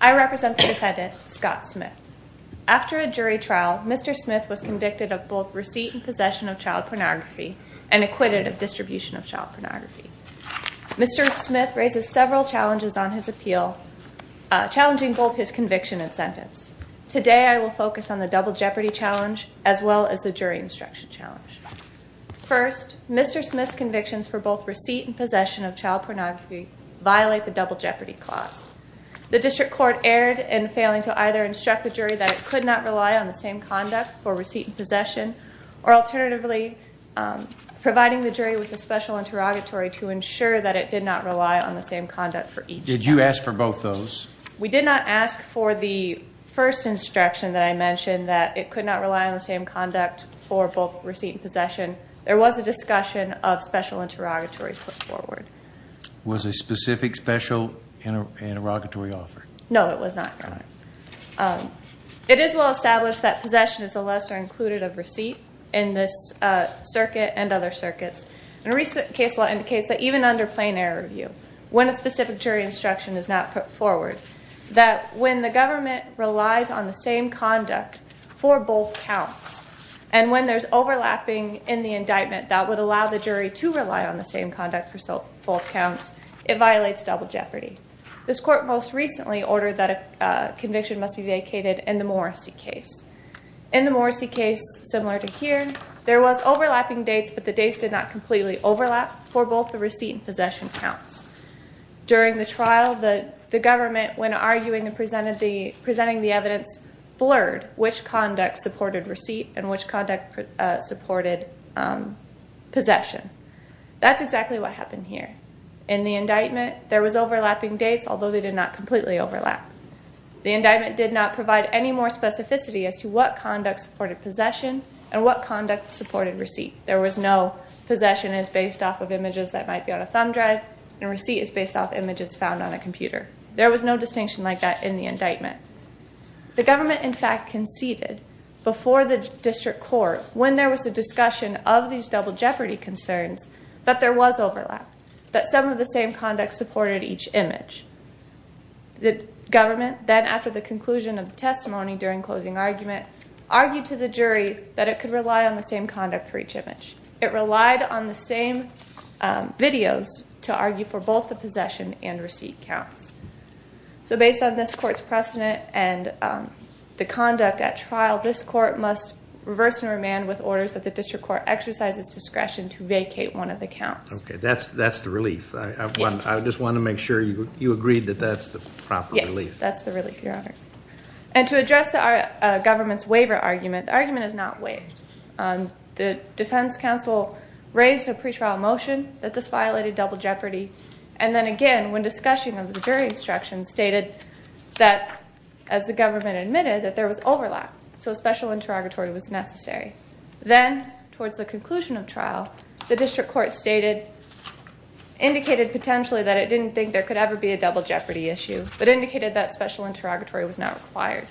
I represent the defendant Scott Smith. After a jury trial, Mr. Smith was convicted of both receipt and possession of child pornography and acquitted of distribution of child pornography. Mr. Smith raises several challenges on his appeal, challenging both his conviction and sentence. Today I will focus on the double jeopardy challenge as well as the jury instruction challenge. First, Mr. Smith's convictions for both receipt and possession of child pornography violate the double jeopardy clause. The district court erred in failing to either instruct the jury that it could not rely on the same conduct for receipt and possession or alternatively providing the jury with a special interrogatory to ensure that it did not rely on the same conduct for each. Did you ask for both those? We did not ask for the first instruction that I mentioned that it could not rely on the same conduct for both receipt and possession. There was a special interrogatory put forward. Was a specific special interrogatory offered? No, it was not. It is well established that possession is a lesser included of receipt in this circuit and other circuits. A recent case law indicates that even under plain error review, when a specific jury instruction is not put forward, that when the government relies on the same conduct for both counts and there's overlapping in the indictment that would allow the jury to rely on the same conduct for both counts, it violates double jeopardy. This court most recently ordered that a conviction must be vacated in the Morrissey case. In the Morrissey case, similar to here, there was overlapping dates but the dates did not completely overlap for both the receipt and possession counts. During the trial, the government, when arguing and presenting the evidence, blurred which conduct supported receipt and which conduct supported possession. That's exactly what happened here. In the indictment, there was overlapping dates although they did not completely overlap. The indictment did not provide any more specificity as to what conduct supported possession and what conduct supported receipt. There was no possession is based off of images that might be on a thumb drive and receipt is based off images found on a computer. There was no overlap. The government, in fact, conceded before the district court when there was a discussion of these double jeopardy concerns that there was overlap, that some of the same conduct supported each image. The government, then after the conclusion of the testimony during closing argument, argued to the jury that it could rely on the same conduct for each image. It relied on the same videos to argue for both the possession and receipt counts. So based on this court's precedent and the conduct at trial, this court must reverse and remand with orders that the district court exercises discretion to vacate one of the counts. Okay, that's the relief. I just want to make sure you agreed that that's the proper relief. Yes, that's the relief, your honor. And to address the government's waiver argument, the argument is not waived. The defense counsel raised a pre-trial motion that this violated double jeopardy and then again, when discussing the jury instructions, stated that, as the government admitted, that there was overlap, so a special interrogatory was necessary. Then, towards the conclusion of trial, the district court stated, indicated potentially that it didn't think there could ever be a double jeopardy issue, but indicated that special interrogatory was not required.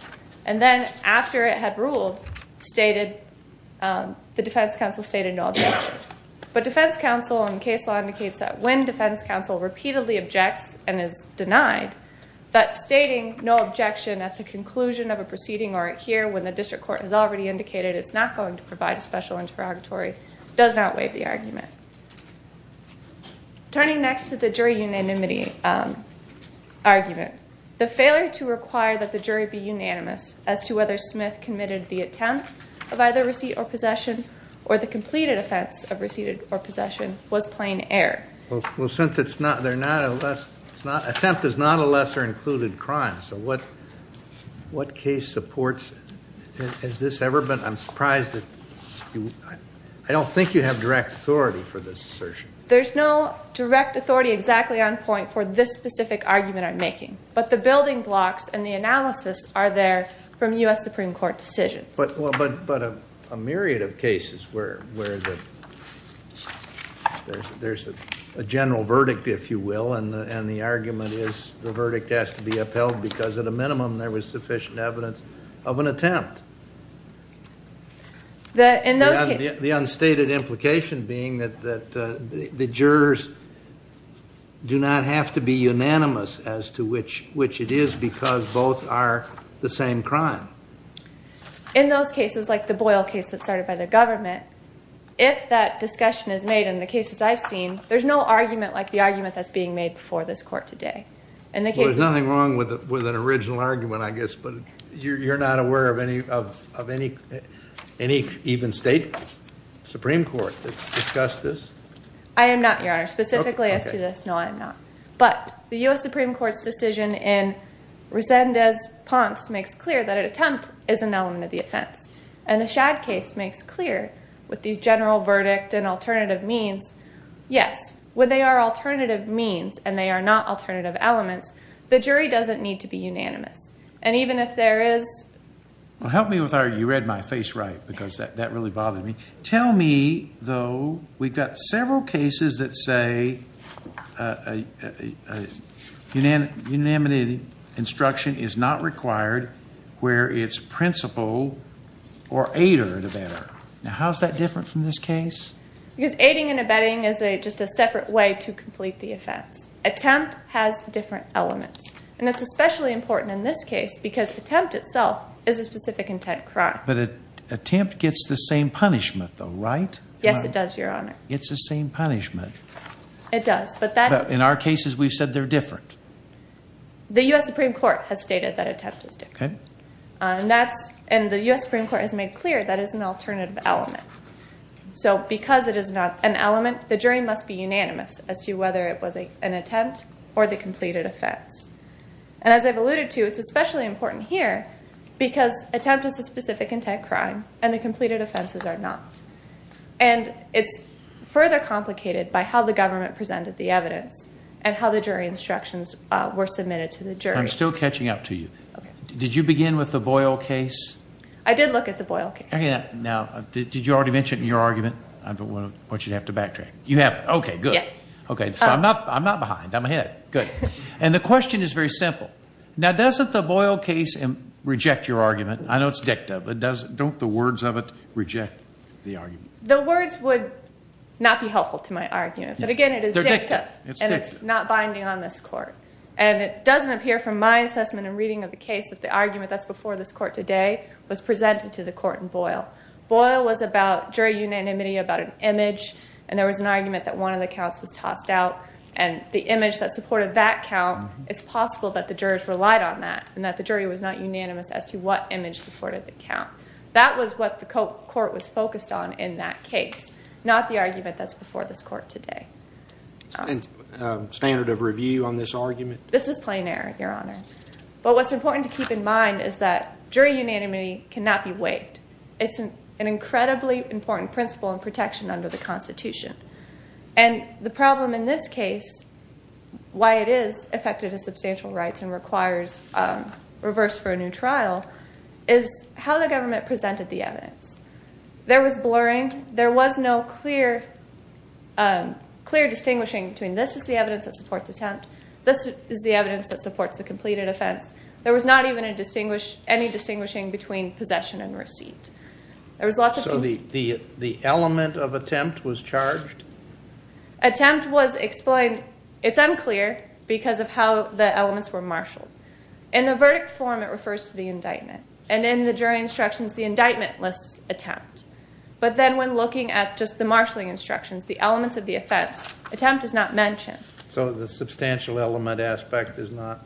And then, after it had ruled, stated, the defense counsel stated no objection. But defense counsel in case law indicates that when defense counsel repeatedly objects and is denied, that stating no objection at the conclusion of a proceeding or here when the district court has already indicated it's not going to provide a special interrogatory does not waive the argument. Turning next to the jury unanimity argument, the failure to require that the jury be unanimous as to whether Smith committed the attempt of either receipt or possession or the completed offense of Well, since it's not, they're not, attempt is not a lesser included crime, so what what case supports, has this ever been, I'm surprised that you, I don't think you have direct authority for this assertion. There's no direct authority exactly on point for this specific argument I'm making, but the building blocks and the analysis are there from US Supreme Court decisions. But a myriad of general verdict, if you will, and the argument is the verdict has to be upheld because at a minimum there was sufficient evidence of an attempt. The unstated implication being that the jurors do not have to be unanimous as to which it is because both are the same crime. In those cases, like the Boyle case that started by the government, if that discussion is made in the cases I've seen, there's no argument like the argument that's being made before this court today. There's nothing wrong with it with an original argument, I guess, but you're not aware of any of any even state Supreme Court that's discussed this? I am not, Your Honor. Specifically as to this, no I'm not. But the US Supreme Court's decision in Resendez-Ponce makes clear that an attempt is an element of the offense, and the Shadd case makes clear with these general verdict and alternative means, yes, when they are alternative means and they are not alternative elements, the jury doesn't need to be unanimous. And even if there is... Well help me with our, you read my face right, because that really bothered me. Tell me, though, we've got several cases that say a unanimity instruction is not required where it's principal or aider to better. Now how's that different from this case? Because aiding and abetting is a just a separate way to complete the offense. Attempt has different elements, and it's especially important in this case because attempt itself is a specific intent crime. But attempt gets the same punishment though, right? Yes it does, Your Honor. It's the same punishment. It does, but that... In our cases we've said they're different. The US Supreme Court has stated that attempt is different, and that's, and the US Supreme Court has made clear that is an alternative element. So because it is not an element, the jury must be unanimous as to whether it was an attempt or the completed offense. And as I've alluded to, it's especially important here because attempt is a specific intent crime and the completed offenses are not. And it's further complicated by how the government presented the evidence and how the jury instructions were submitted to the jury. I'm still catching up to you. Did you begin with the Boyle case? I did look at the Boyle case. Now, did you already mention in your argument? I don't want you to have to backtrack. You have. Okay, good. Yes. Okay, so I'm not behind. I'm ahead. Good. And the question is very simple. Now, doesn't the Boyle case reject your argument? I know it's dicta, but don't the words of it reject the argument? The words would not be helpful to my argument. But again, it is dicta, and it's not binding on this case that the argument that's before this court today was presented to the court in Boyle. Boyle was about jury unanimity about an image, and there was an argument that one of the counts was tossed out. And the image that supported that count, it's possible that the jurors relied on that and that the jury was not unanimous as to what image supported the count. That was what the court was focused on in that case, not the argument that's before this court today. And standard of review on this argument? This is plain error, Your Honor. What's important to keep in mind is that jury unanimity cannot be waived. It's an incredibly important principle in protection under the Constitution. And the problem in this case, why it is affected to substantial rights and requires reverse for a new trial, is how the government presented the evidence. There was blurring. There was no clear distinguishing between this is the evidence that supports attempt, this is the evidence that supports attempt. There was not even any distinguishing between possession and receipt. So the element of attempt was charged? Attempt was explained. It's unclear because of how the elements were marshalled. In the verdict form, it refers to the indictment. And in the jury instructions, the indictment lists attempt. But then when looking at just the marshalling instructions, the elements of the offense, attempt is not mentioned. So the substantial element aspect is not,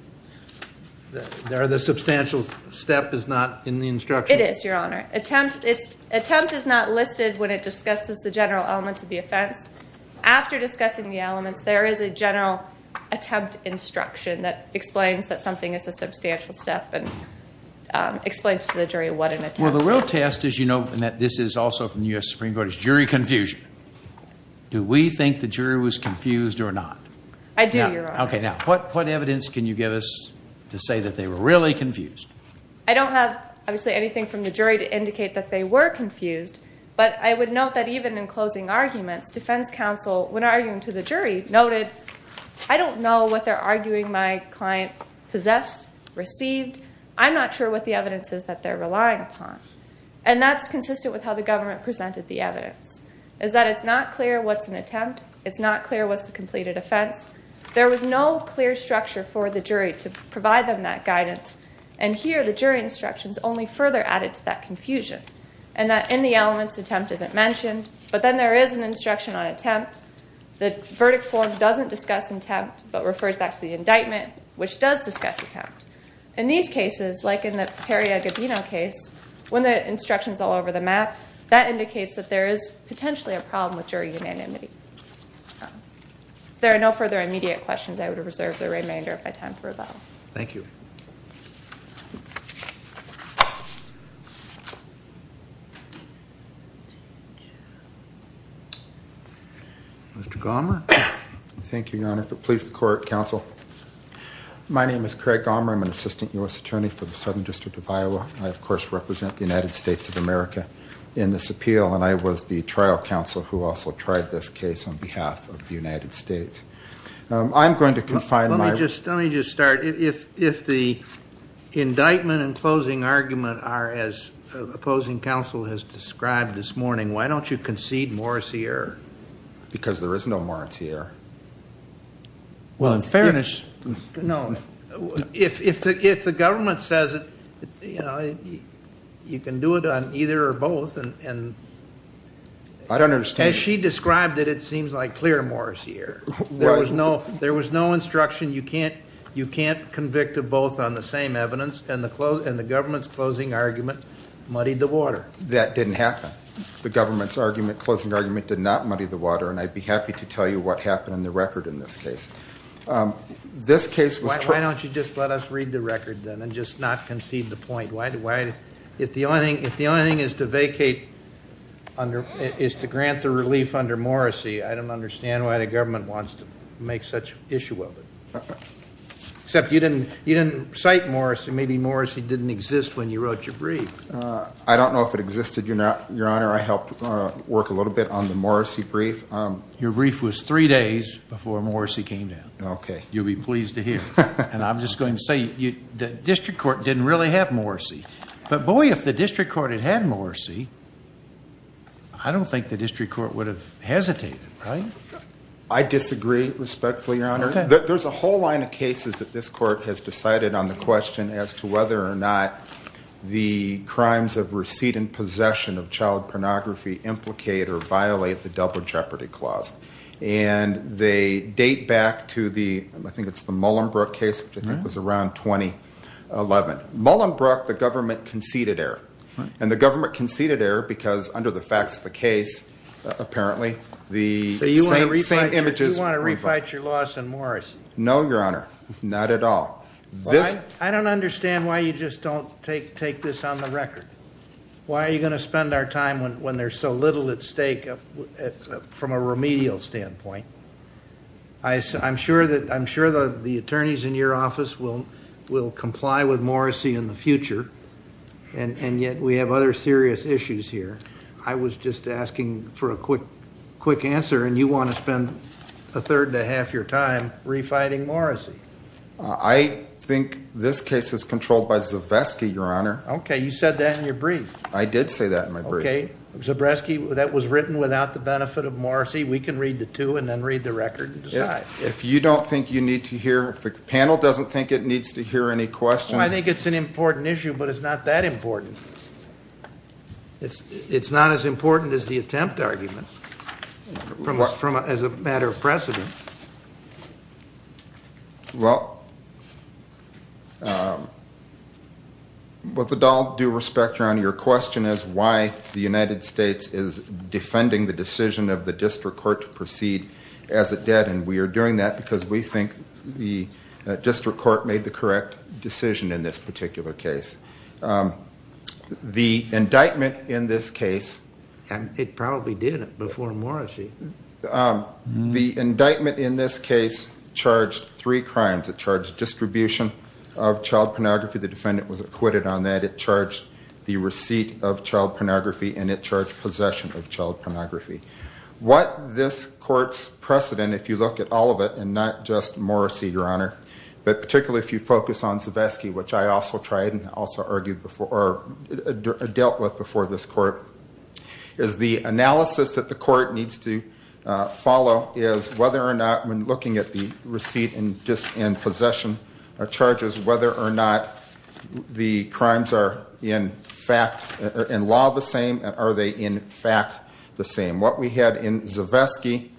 the substantial step is not in the instruction? It is, Your Honor. Attempt is not listed when it discusses the general elements of the offense. After discussing the elements, there is a general attempt instruction that explains that something is a substantial step and explains to the jury what an attempt is. Well, the real test, as you know, and this is also from the U.S. Supreme Court, is jury confusion. Do we think the jury was confused or not? I do, Your Honor. Okay, now, what evidence can you give us to say that they were really confused? I don't have, obviously, anything from the jury to indicate that they were confused. But I would note that even in closing arguments, defense counsel, when arguing to the jury, noted, I don't know what they're arguing my client possessed, received. I'm not sure what the evidence is that they're relying upon. And that's consistent with how the government presented the evidence, is that it's not clear what's an attempt. It's not clear what's the completed offense. There was no clear structure for the jury to provide them that guidance. And here, the jury instructions only further added to that confusion. And that in the elements, attempt isn't mentioned. But then there is an instruction on attempt. The verdict form doesn't discuss attempt, but refers back to the indictment, which does discuss attempt. In these cases, like in the Perry-Agobino case, when the instruction's all over the problem with jury unanimity. If there are no further immediate questions, I would reserve the remainder of my time for rebuttal. Thank you. Mr. Gommer. Thank you, Your Honor. If it pleases the court, counsel. My name is Craig Gommer. I'm an assistant U.S. attorney for the Southern District of Iowa. I, of course, represent the United States of America in this appeal. And I was the trial counsel who also tried this case on behalf of the United States. I'm going to confine my... Let me just start. If the indictment and closing argument are as opposing counsel has described this morning, why don't you concede Morris here? Because there is no Morris here. Well, in fairness... If the government says you can do it on either or both... I don't understand. As she described it, it seems like clear Morris here. There was no instruction you can't convict of both on the same evidence, and the government's closing argument muddied the water. That didn't happen. The government's closing argument did not muddy the water, and I'd be happy to tell you what happened in the record in this case. Why don't you just let us read the record, then, and just not concede the point? If the only thing is to grant the relief under Morrissey, I don't understand why the government wants to make such an issue of it. Except you didn't cite Morrissey. Maybe Morrissey didn't exist when you wrote your brief. I don't know if it existed, Your Honor. I helped work a little bit on the Morrissey brief. Your brief was three days before Morrissey came down. Okay. You'll be pleased to hear. And I'm just going to say, the district court didn't really have Morrissey. But boy, if the district court had had Morrissey, I don't think the district court would have hesitated, right? I disagree, respectfully, Your Honor. There's a whole line of cases that this court has decided on the question as to whether or not the crimes of recedent possession of child pornography implicate or violate the Double Jeopardy Clause. And they date back to the, I think it's the Mullenbrook case, which I think was around 2011. Mullenbrook, the government conceded error. And the government conceded error because, under the facts of the case, apparently, the same images were revoked. So you want to refight your loss on Morrissey? No, Your Honor. Not at all. I don't understand why you just don't take this on the record. Why are you going to spend our time when there's so little at stake from a remedial standpoint? I'm sure that the attorneys in your office will comply with Morrissey in the future, and yet we have other serious issues here. I was just asking for a quick answer, and you want to spend a third to half your time refighting Morrissey? I think this case is controlled by Zavetsky, Your Honor. Okay. You said that in your brief. I did say that in my brief. Okay. Zavetsky, that was written without the benefit of Morrissey. We can read the two and then read the record and decide. If you don't think you need to hear, if the panel doesn't think it needs to hear any questions... I think it's an important issue, but it's not that important. It's not as important as the attempt argument, as a matter of precedent. Okay. Well, with all due respect, Your Honor, your question is why the United States is defending the decision of the district court to proceed as it did, and we are doing that because we think the district court made the correct decision in this particular case. The indictment in this case... And it probably did it before Morrissey. ...the indictment in this case charged three crimes. It charged distribution of child pornography. The defendant was acquitted on that. It charged the receipt of child pornography, and it charged possession of child pornography. What this court's precedent, if you look at all of it, and not just Morrissey, Your Honor, but particularly if you focus on Zavetsky, which I also tried and also argued before or dealt with before this court, is the analysis that court needs to follow is whether or not, when looking at the receipt and possession charges, whether or not the crimes are, in fact, in law the same, are they in fact the same. What we had in Zavetsky,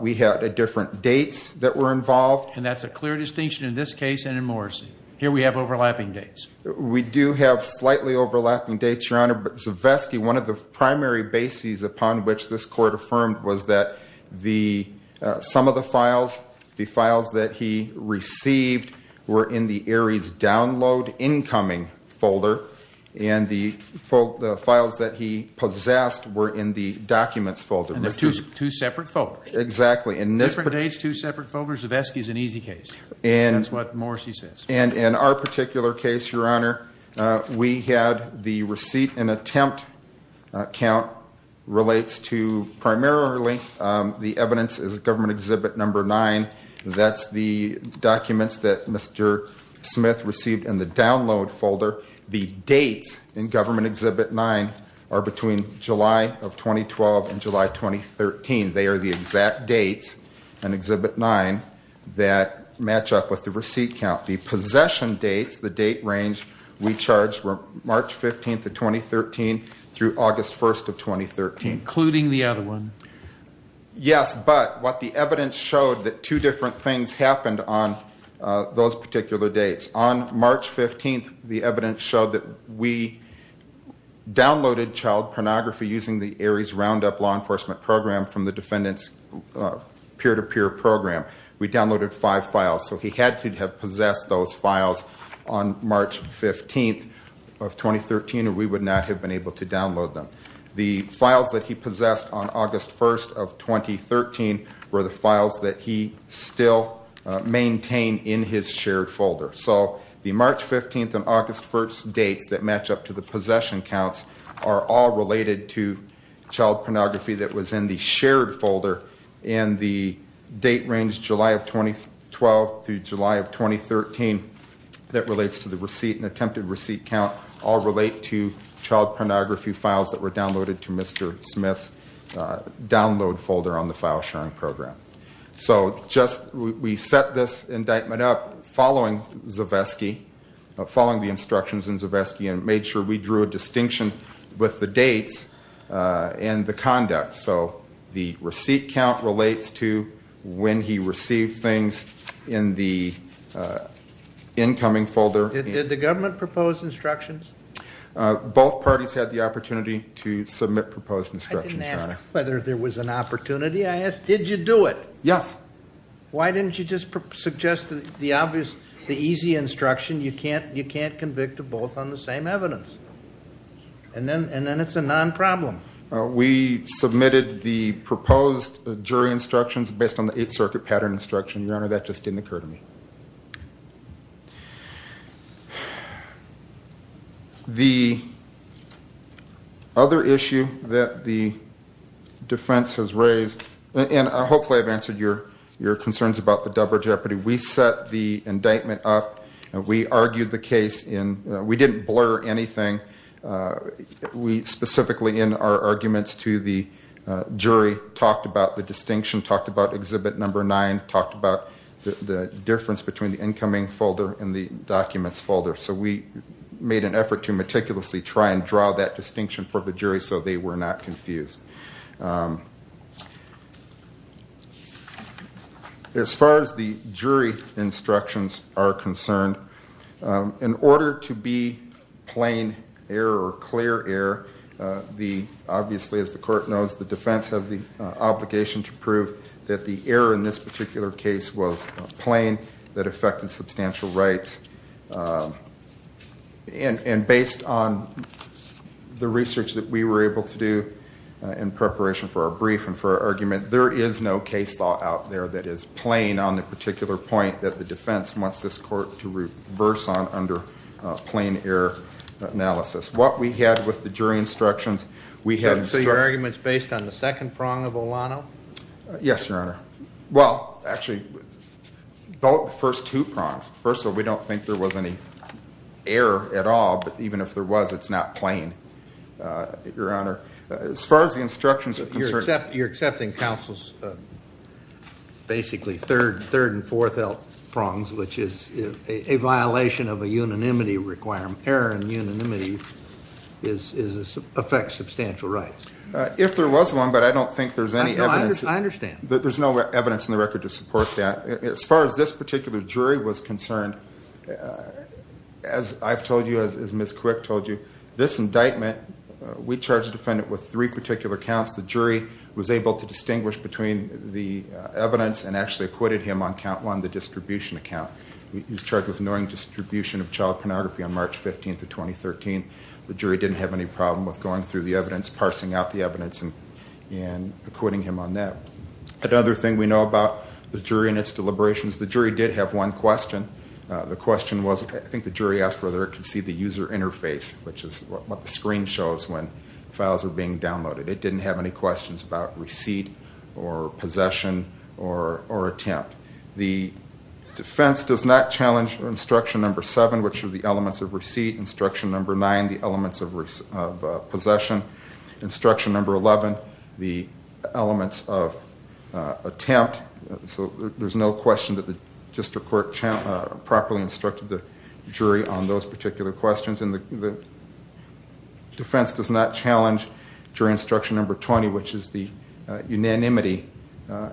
we had different dates that were involved. And that's a clear distinction in this case and in Morrissey. Here we have overlapping dates. We do have slightly overlapping dates, Your Honor, but Zavetsky, one of the bases upon which this court affirmed was that some of the files, the files that he received, were in the ARIES download incoming folder, and the files that he possessed were in the documents folder. And they're two separate folders. Exactly. Different dates, two separate folders. Zavetsky's an easy case. That's what Morrissey says. In our particular case, Your Honor, we had the receipt and attempt count relates to primarily the evidence is Government Exhibit Number 9. That's the documents that Mr. Smith received in the download folder. The dates in Government Exhibit 9 are between July of 2012 and July 2013. They are the exact dates in Exhibit 9 that match up with the receipt count, the possession dates, the date range we charged were March 15th of 2013 through August 1st of 2013. Including the other one. Yes, but what the evidence showed that two different things happened on those particular dates. On March 15th, the evidence showed that we downloaded child pornography using the ARIES Roundup law enforcement program from the defendant's peer-to-peer program. We downloaded five files. So he had to have possessed those files on March 15th of 2013 or we would not have been able to download them. The files that he possessed on August 1st of 2013 were the files that he still maintained in his shared folder. So the March 15th and August 1st dates that match up to the possession counts are all related to child pornography that was in the shared folder and the date range July of 2012 through July of 2013 that relates to the receipt and attempted receipt count all relate to child pornography files that were downloaded to Mr. Smith's download folder on the file sharing program. So we set this indictment up following Zavesky, following the instructions in Zavesky and made sure we drew a distinction with the dates and the conduct. So the receipt count relates to when he received things in the incoming folder. Did the government propose instructions? Both parties had the opportunity to submit proposed instructions. I didn't ask whether there was an opportunity. I asked, did you do it? Yes. Why didn't you just suggest the obvious, the easy instruction? You can't convict of both on the same evidence. And then it's a non-problem. We submitted the proposed jury instructions based on the Eighth Circuit pattern instruction. Your Honor, that just didn't occur to me. The other issue that the defense has raised and hopefully I've answered your concerns about the double jeopardy. We set the indictment up and we argued the case in, we didn't blur anything. We specifically in our arguments to the jury talked about the distinction, talked about exhibit number nine, talked about the difference between the incoming folder and the documents folder. So we made an effort to meticulously try and draw that distinction for the jury so they were not confused. As far as the jury instructions are concerned, in order to be plain error or clear error, obviously as the court knows, the defense has the obligation to prove that the error in this particular case was plain that affected substantial rights. And based on the research that we were able to do in preparation for our brief and for our argument, there is no case law out there that is plain on the particular point that the defense wants this court to reverse on under plain error analysis. What we had with the jury instructions, we had- So your argument's based on the second prong of Olano? Yes, Your Honor. Well, actually, the first two prongs. First of all, we don't think there was any error at all, but even if there was, it's not plain, Your Honor. As far as the instructions are concerned- You're accepting counsel's basically third and fourth prongs, which is a violation of a unanimity requirement. Error and unanimity affects substantial rights. If there was one, but I don't think there's any evidence- I understand. There's no evidence in the record to support that. As far as this particular jury was concerned, as I've told you, as Ms. Quick told you, this indictment, we charged the defendant with three particular counts. The jury was able to distinguish between the evidence and actually acquitted him on count one, the distribution account. He was charged with ignoring distribution of child pornography on March 15th of 2013. The jury didn't have any problem with going through the evidence, parsing out the evidence, and acquitting him on that. Another thing we know about the jury and its deliberations, the jury did have one question. The question was, I think the jury asked whether it could see the user interface, which is what the screen shows when files are being downloaded. It didn't have any questions about receipt or possession or attempt. The defense does not challenge instruction number seven, which are the elements of receipt, instruction number nine, the elements of possession, instruction number 11, the elements of attempt. So there's no question that the district court properly instructed the jury on those particular questions. And the defense does not challenge jury instruction number 20, which is the unanimity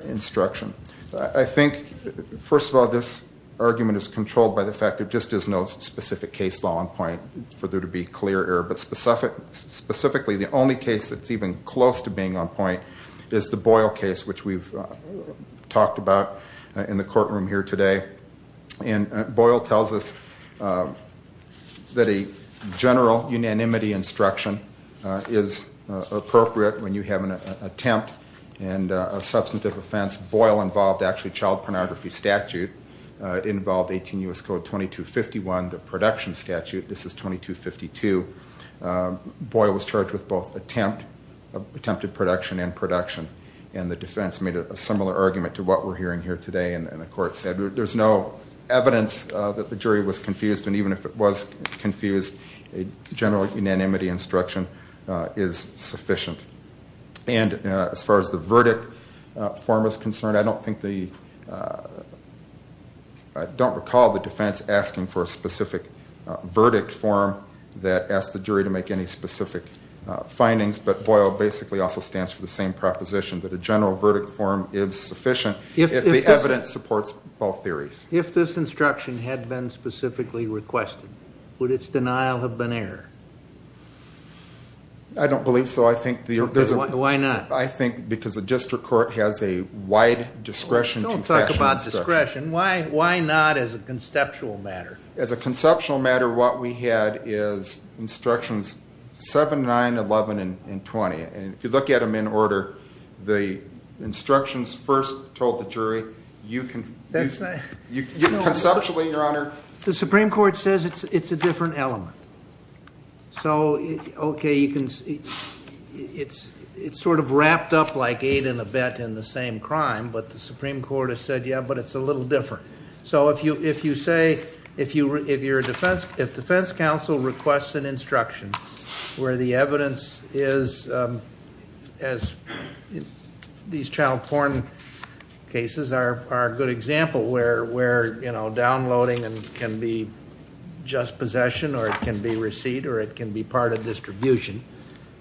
instruction. I think, first of all, this argument is controlled by the fact there just is no specific case law on point for there to be clear error. Specifically, the only case that's even close to being on point is the Boyle case, which we've talked about in the courtroom here today. And Boyle tells us that a general unanimity instruction is appropriate when you have an attempt and a substantive offense. Boyle involved actually child pornography statute. It involved 18 U.S. Code 2251, the production statute. This is 2252. Boyle was charged with both attempt, attempted production and production. And the defense made a similar argument to what we're hearing here today. And the court said there's no evidence that the jury was confused. And even if it was confused, a general unanimity instruction is sufficient. And as far as the verdict form is concerned, I don't think the, I don't recall the defense asking for a specific verdict form that asked the jury to make any specific findings. But Boyle basically also stands for the same proposition, that a general verdict form is sufficient if the evidence supports both theories. If this instruction had been specifically requested, would its denial have been error? I don't believe so. I think there's a... Why not? I think because the district court has a wide discretion to... Don't talk about discretion. Why not as a conceptual matter? As a conceptual matter, what we had is instructions 7, 9, 11, and 20. And if you look at them in order, the instructions first told the jury, you can... Conceptually, your honor... The Supreme Court says it's a different element. So, okay, you can... It's sort of wrapped up like eight and a bet in the same crime. But the Supreme Court has said, yeah, but it's a little different. So if you say, if you're a defense... If defense counsel requests an instruction where the evidence is, as these child porn cases are a good example where downloading can be just possession, or it can be receipt, or it can be part of distribution.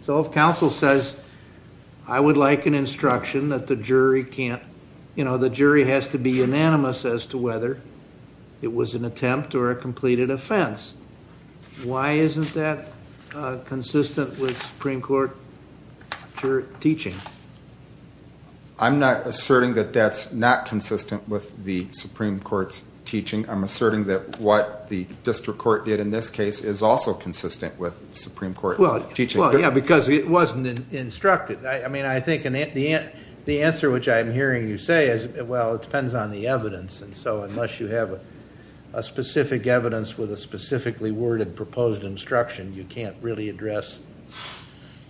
So if counsel says, I would like an instruction that the jury can't... The jury has to be unanimous as to whether it was an attempt or a completed offense. Why isn't that consistent with Supreme Court teaching? I'm not asserting that that's not consistent with the Supreme Court's teaching. I'm asserting that what the district court did in this case is also consistent with the Supreme Court's teaching. Yeah, because it wasn't instructed. I mean, I think the answer which I'm hearing you say is, well, it depends on the evidence. And so unless you have a specific evidence with a specifically worded proposed instruction, you can't really address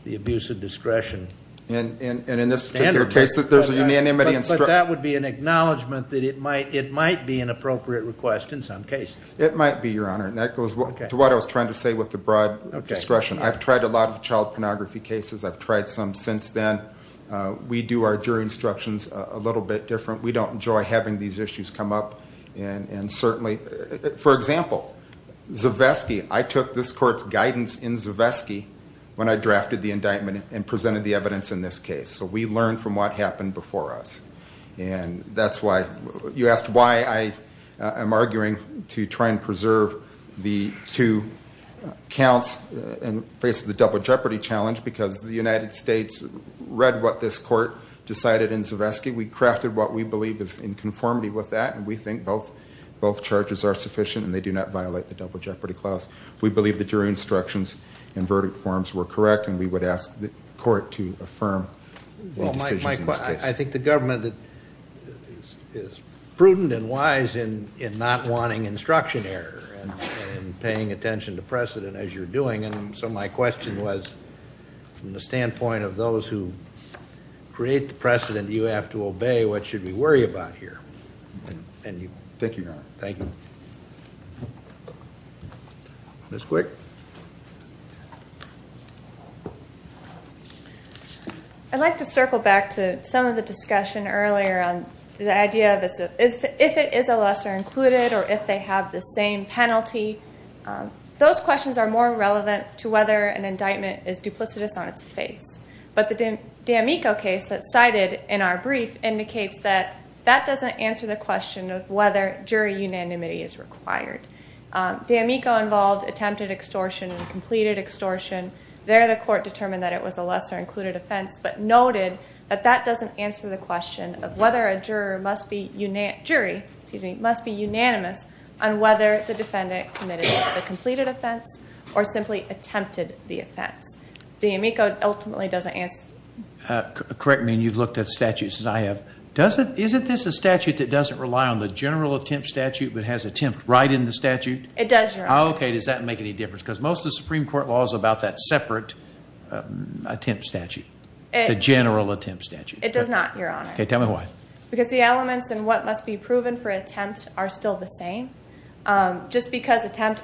the abuse of discretion. And in this particular case that there's a unanimity... But that would be an acknowledgement that it might be an appropriate request in some cases. It might be, your honor. And that goes to what I was trying to say with the broad discretion. I've tried a lot of child pornography cases. I've tried some since then. We do our jury instructions a little bit different. We don't enjoy having these issues come up. And certainly, for example, Zivesky, I took this court's guidance in Zivesky when I drafted the indictment and presented the evidence in this case. So we learned from what happened before us. And that's why you asked why I am arguing to try and preserve the two counts and face the double jeopardy challenge. Because the United States read what this court decided in Zivesky. We crafted what we believe is in conformity with that. And we think both charges are sufficient. And they do not violate the double jeopardy clause. We believe that your instructions and verdict forms were correct. And we would ask the court to affirm the decisions in this case. I think the government is prudent and wise in not wanting instruction error and paying attention to precedent as you're doing. And so my question was, from the standpoint of those who create the precedent, you have to obey. What should we worry about here? And you think you're not. Thank you. Ms. Quick. I'd like to circle back to some of the discussion earlier on the idea of if it is a lesser included or if they have the same penalty. Those questions are more relevant to whether an indictment is duplicitous on its face. But the D'Amico case that's cited in our brief indicates that that doesn't answer the question of whether jury unanimity is required. D'Amico involved attempted extortion and completed extortion. There the court determined that it was a lesser included offense. But noted that that doesn't answer the question of whether a jury must be unanimous on whether the defendant committed the completed offense or simply attempted the offense. D'Amico ultimately doesn't answer. Correct me and you've looked at statutes as I have. Isn't this a statute that doesn't rely on the general attempt statute but has attempt right in the statute? It does, Your Honor. Okay. Does that make any difference? Because most of the Supreme Court law is about that separate attempt statute. The general attempt statute. It does not, Your Honor. Okay. Tell me why. Because the elements and what must be proven for attempt are still the same. Just because attempt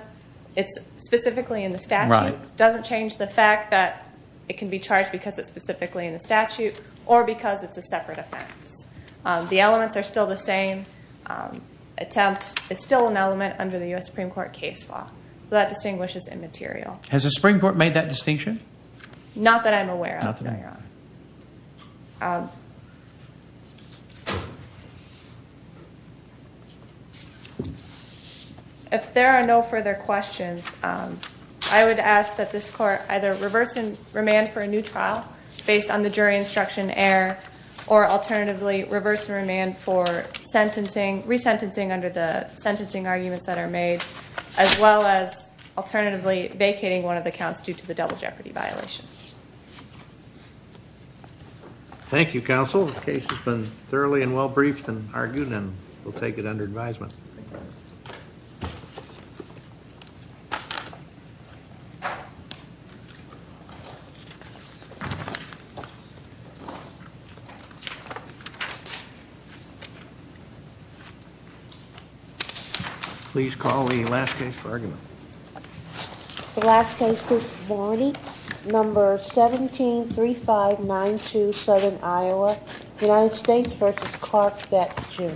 it's specifically in the statute doesn't change the fact that it can be charged because it's specifically in the statute or because it's a separate offense. The elements are still the same. Attempt is still an element under the U.S. Supreme Court case law. So that distinguishes immaterial. Has the Supreme Court made that distinction? Not that I'm aware of, Your Honor. Okay. If there are no further questions, I would ask that this court either reverse and remand for a new trial based on the jury instruction error or alternatively reverse and remand for resentencing under the sentencing arguments that are made as well as alternatively vacating one of the counts due to the double jeopardy violation. Thank you, Counsel. The case has been thoroughly and well briefed and argued and we'll take it under advisement. Please call the last case for argument. The last case this morning, number 173592 Southern Iowa, United States v. Clark Betts, Jr.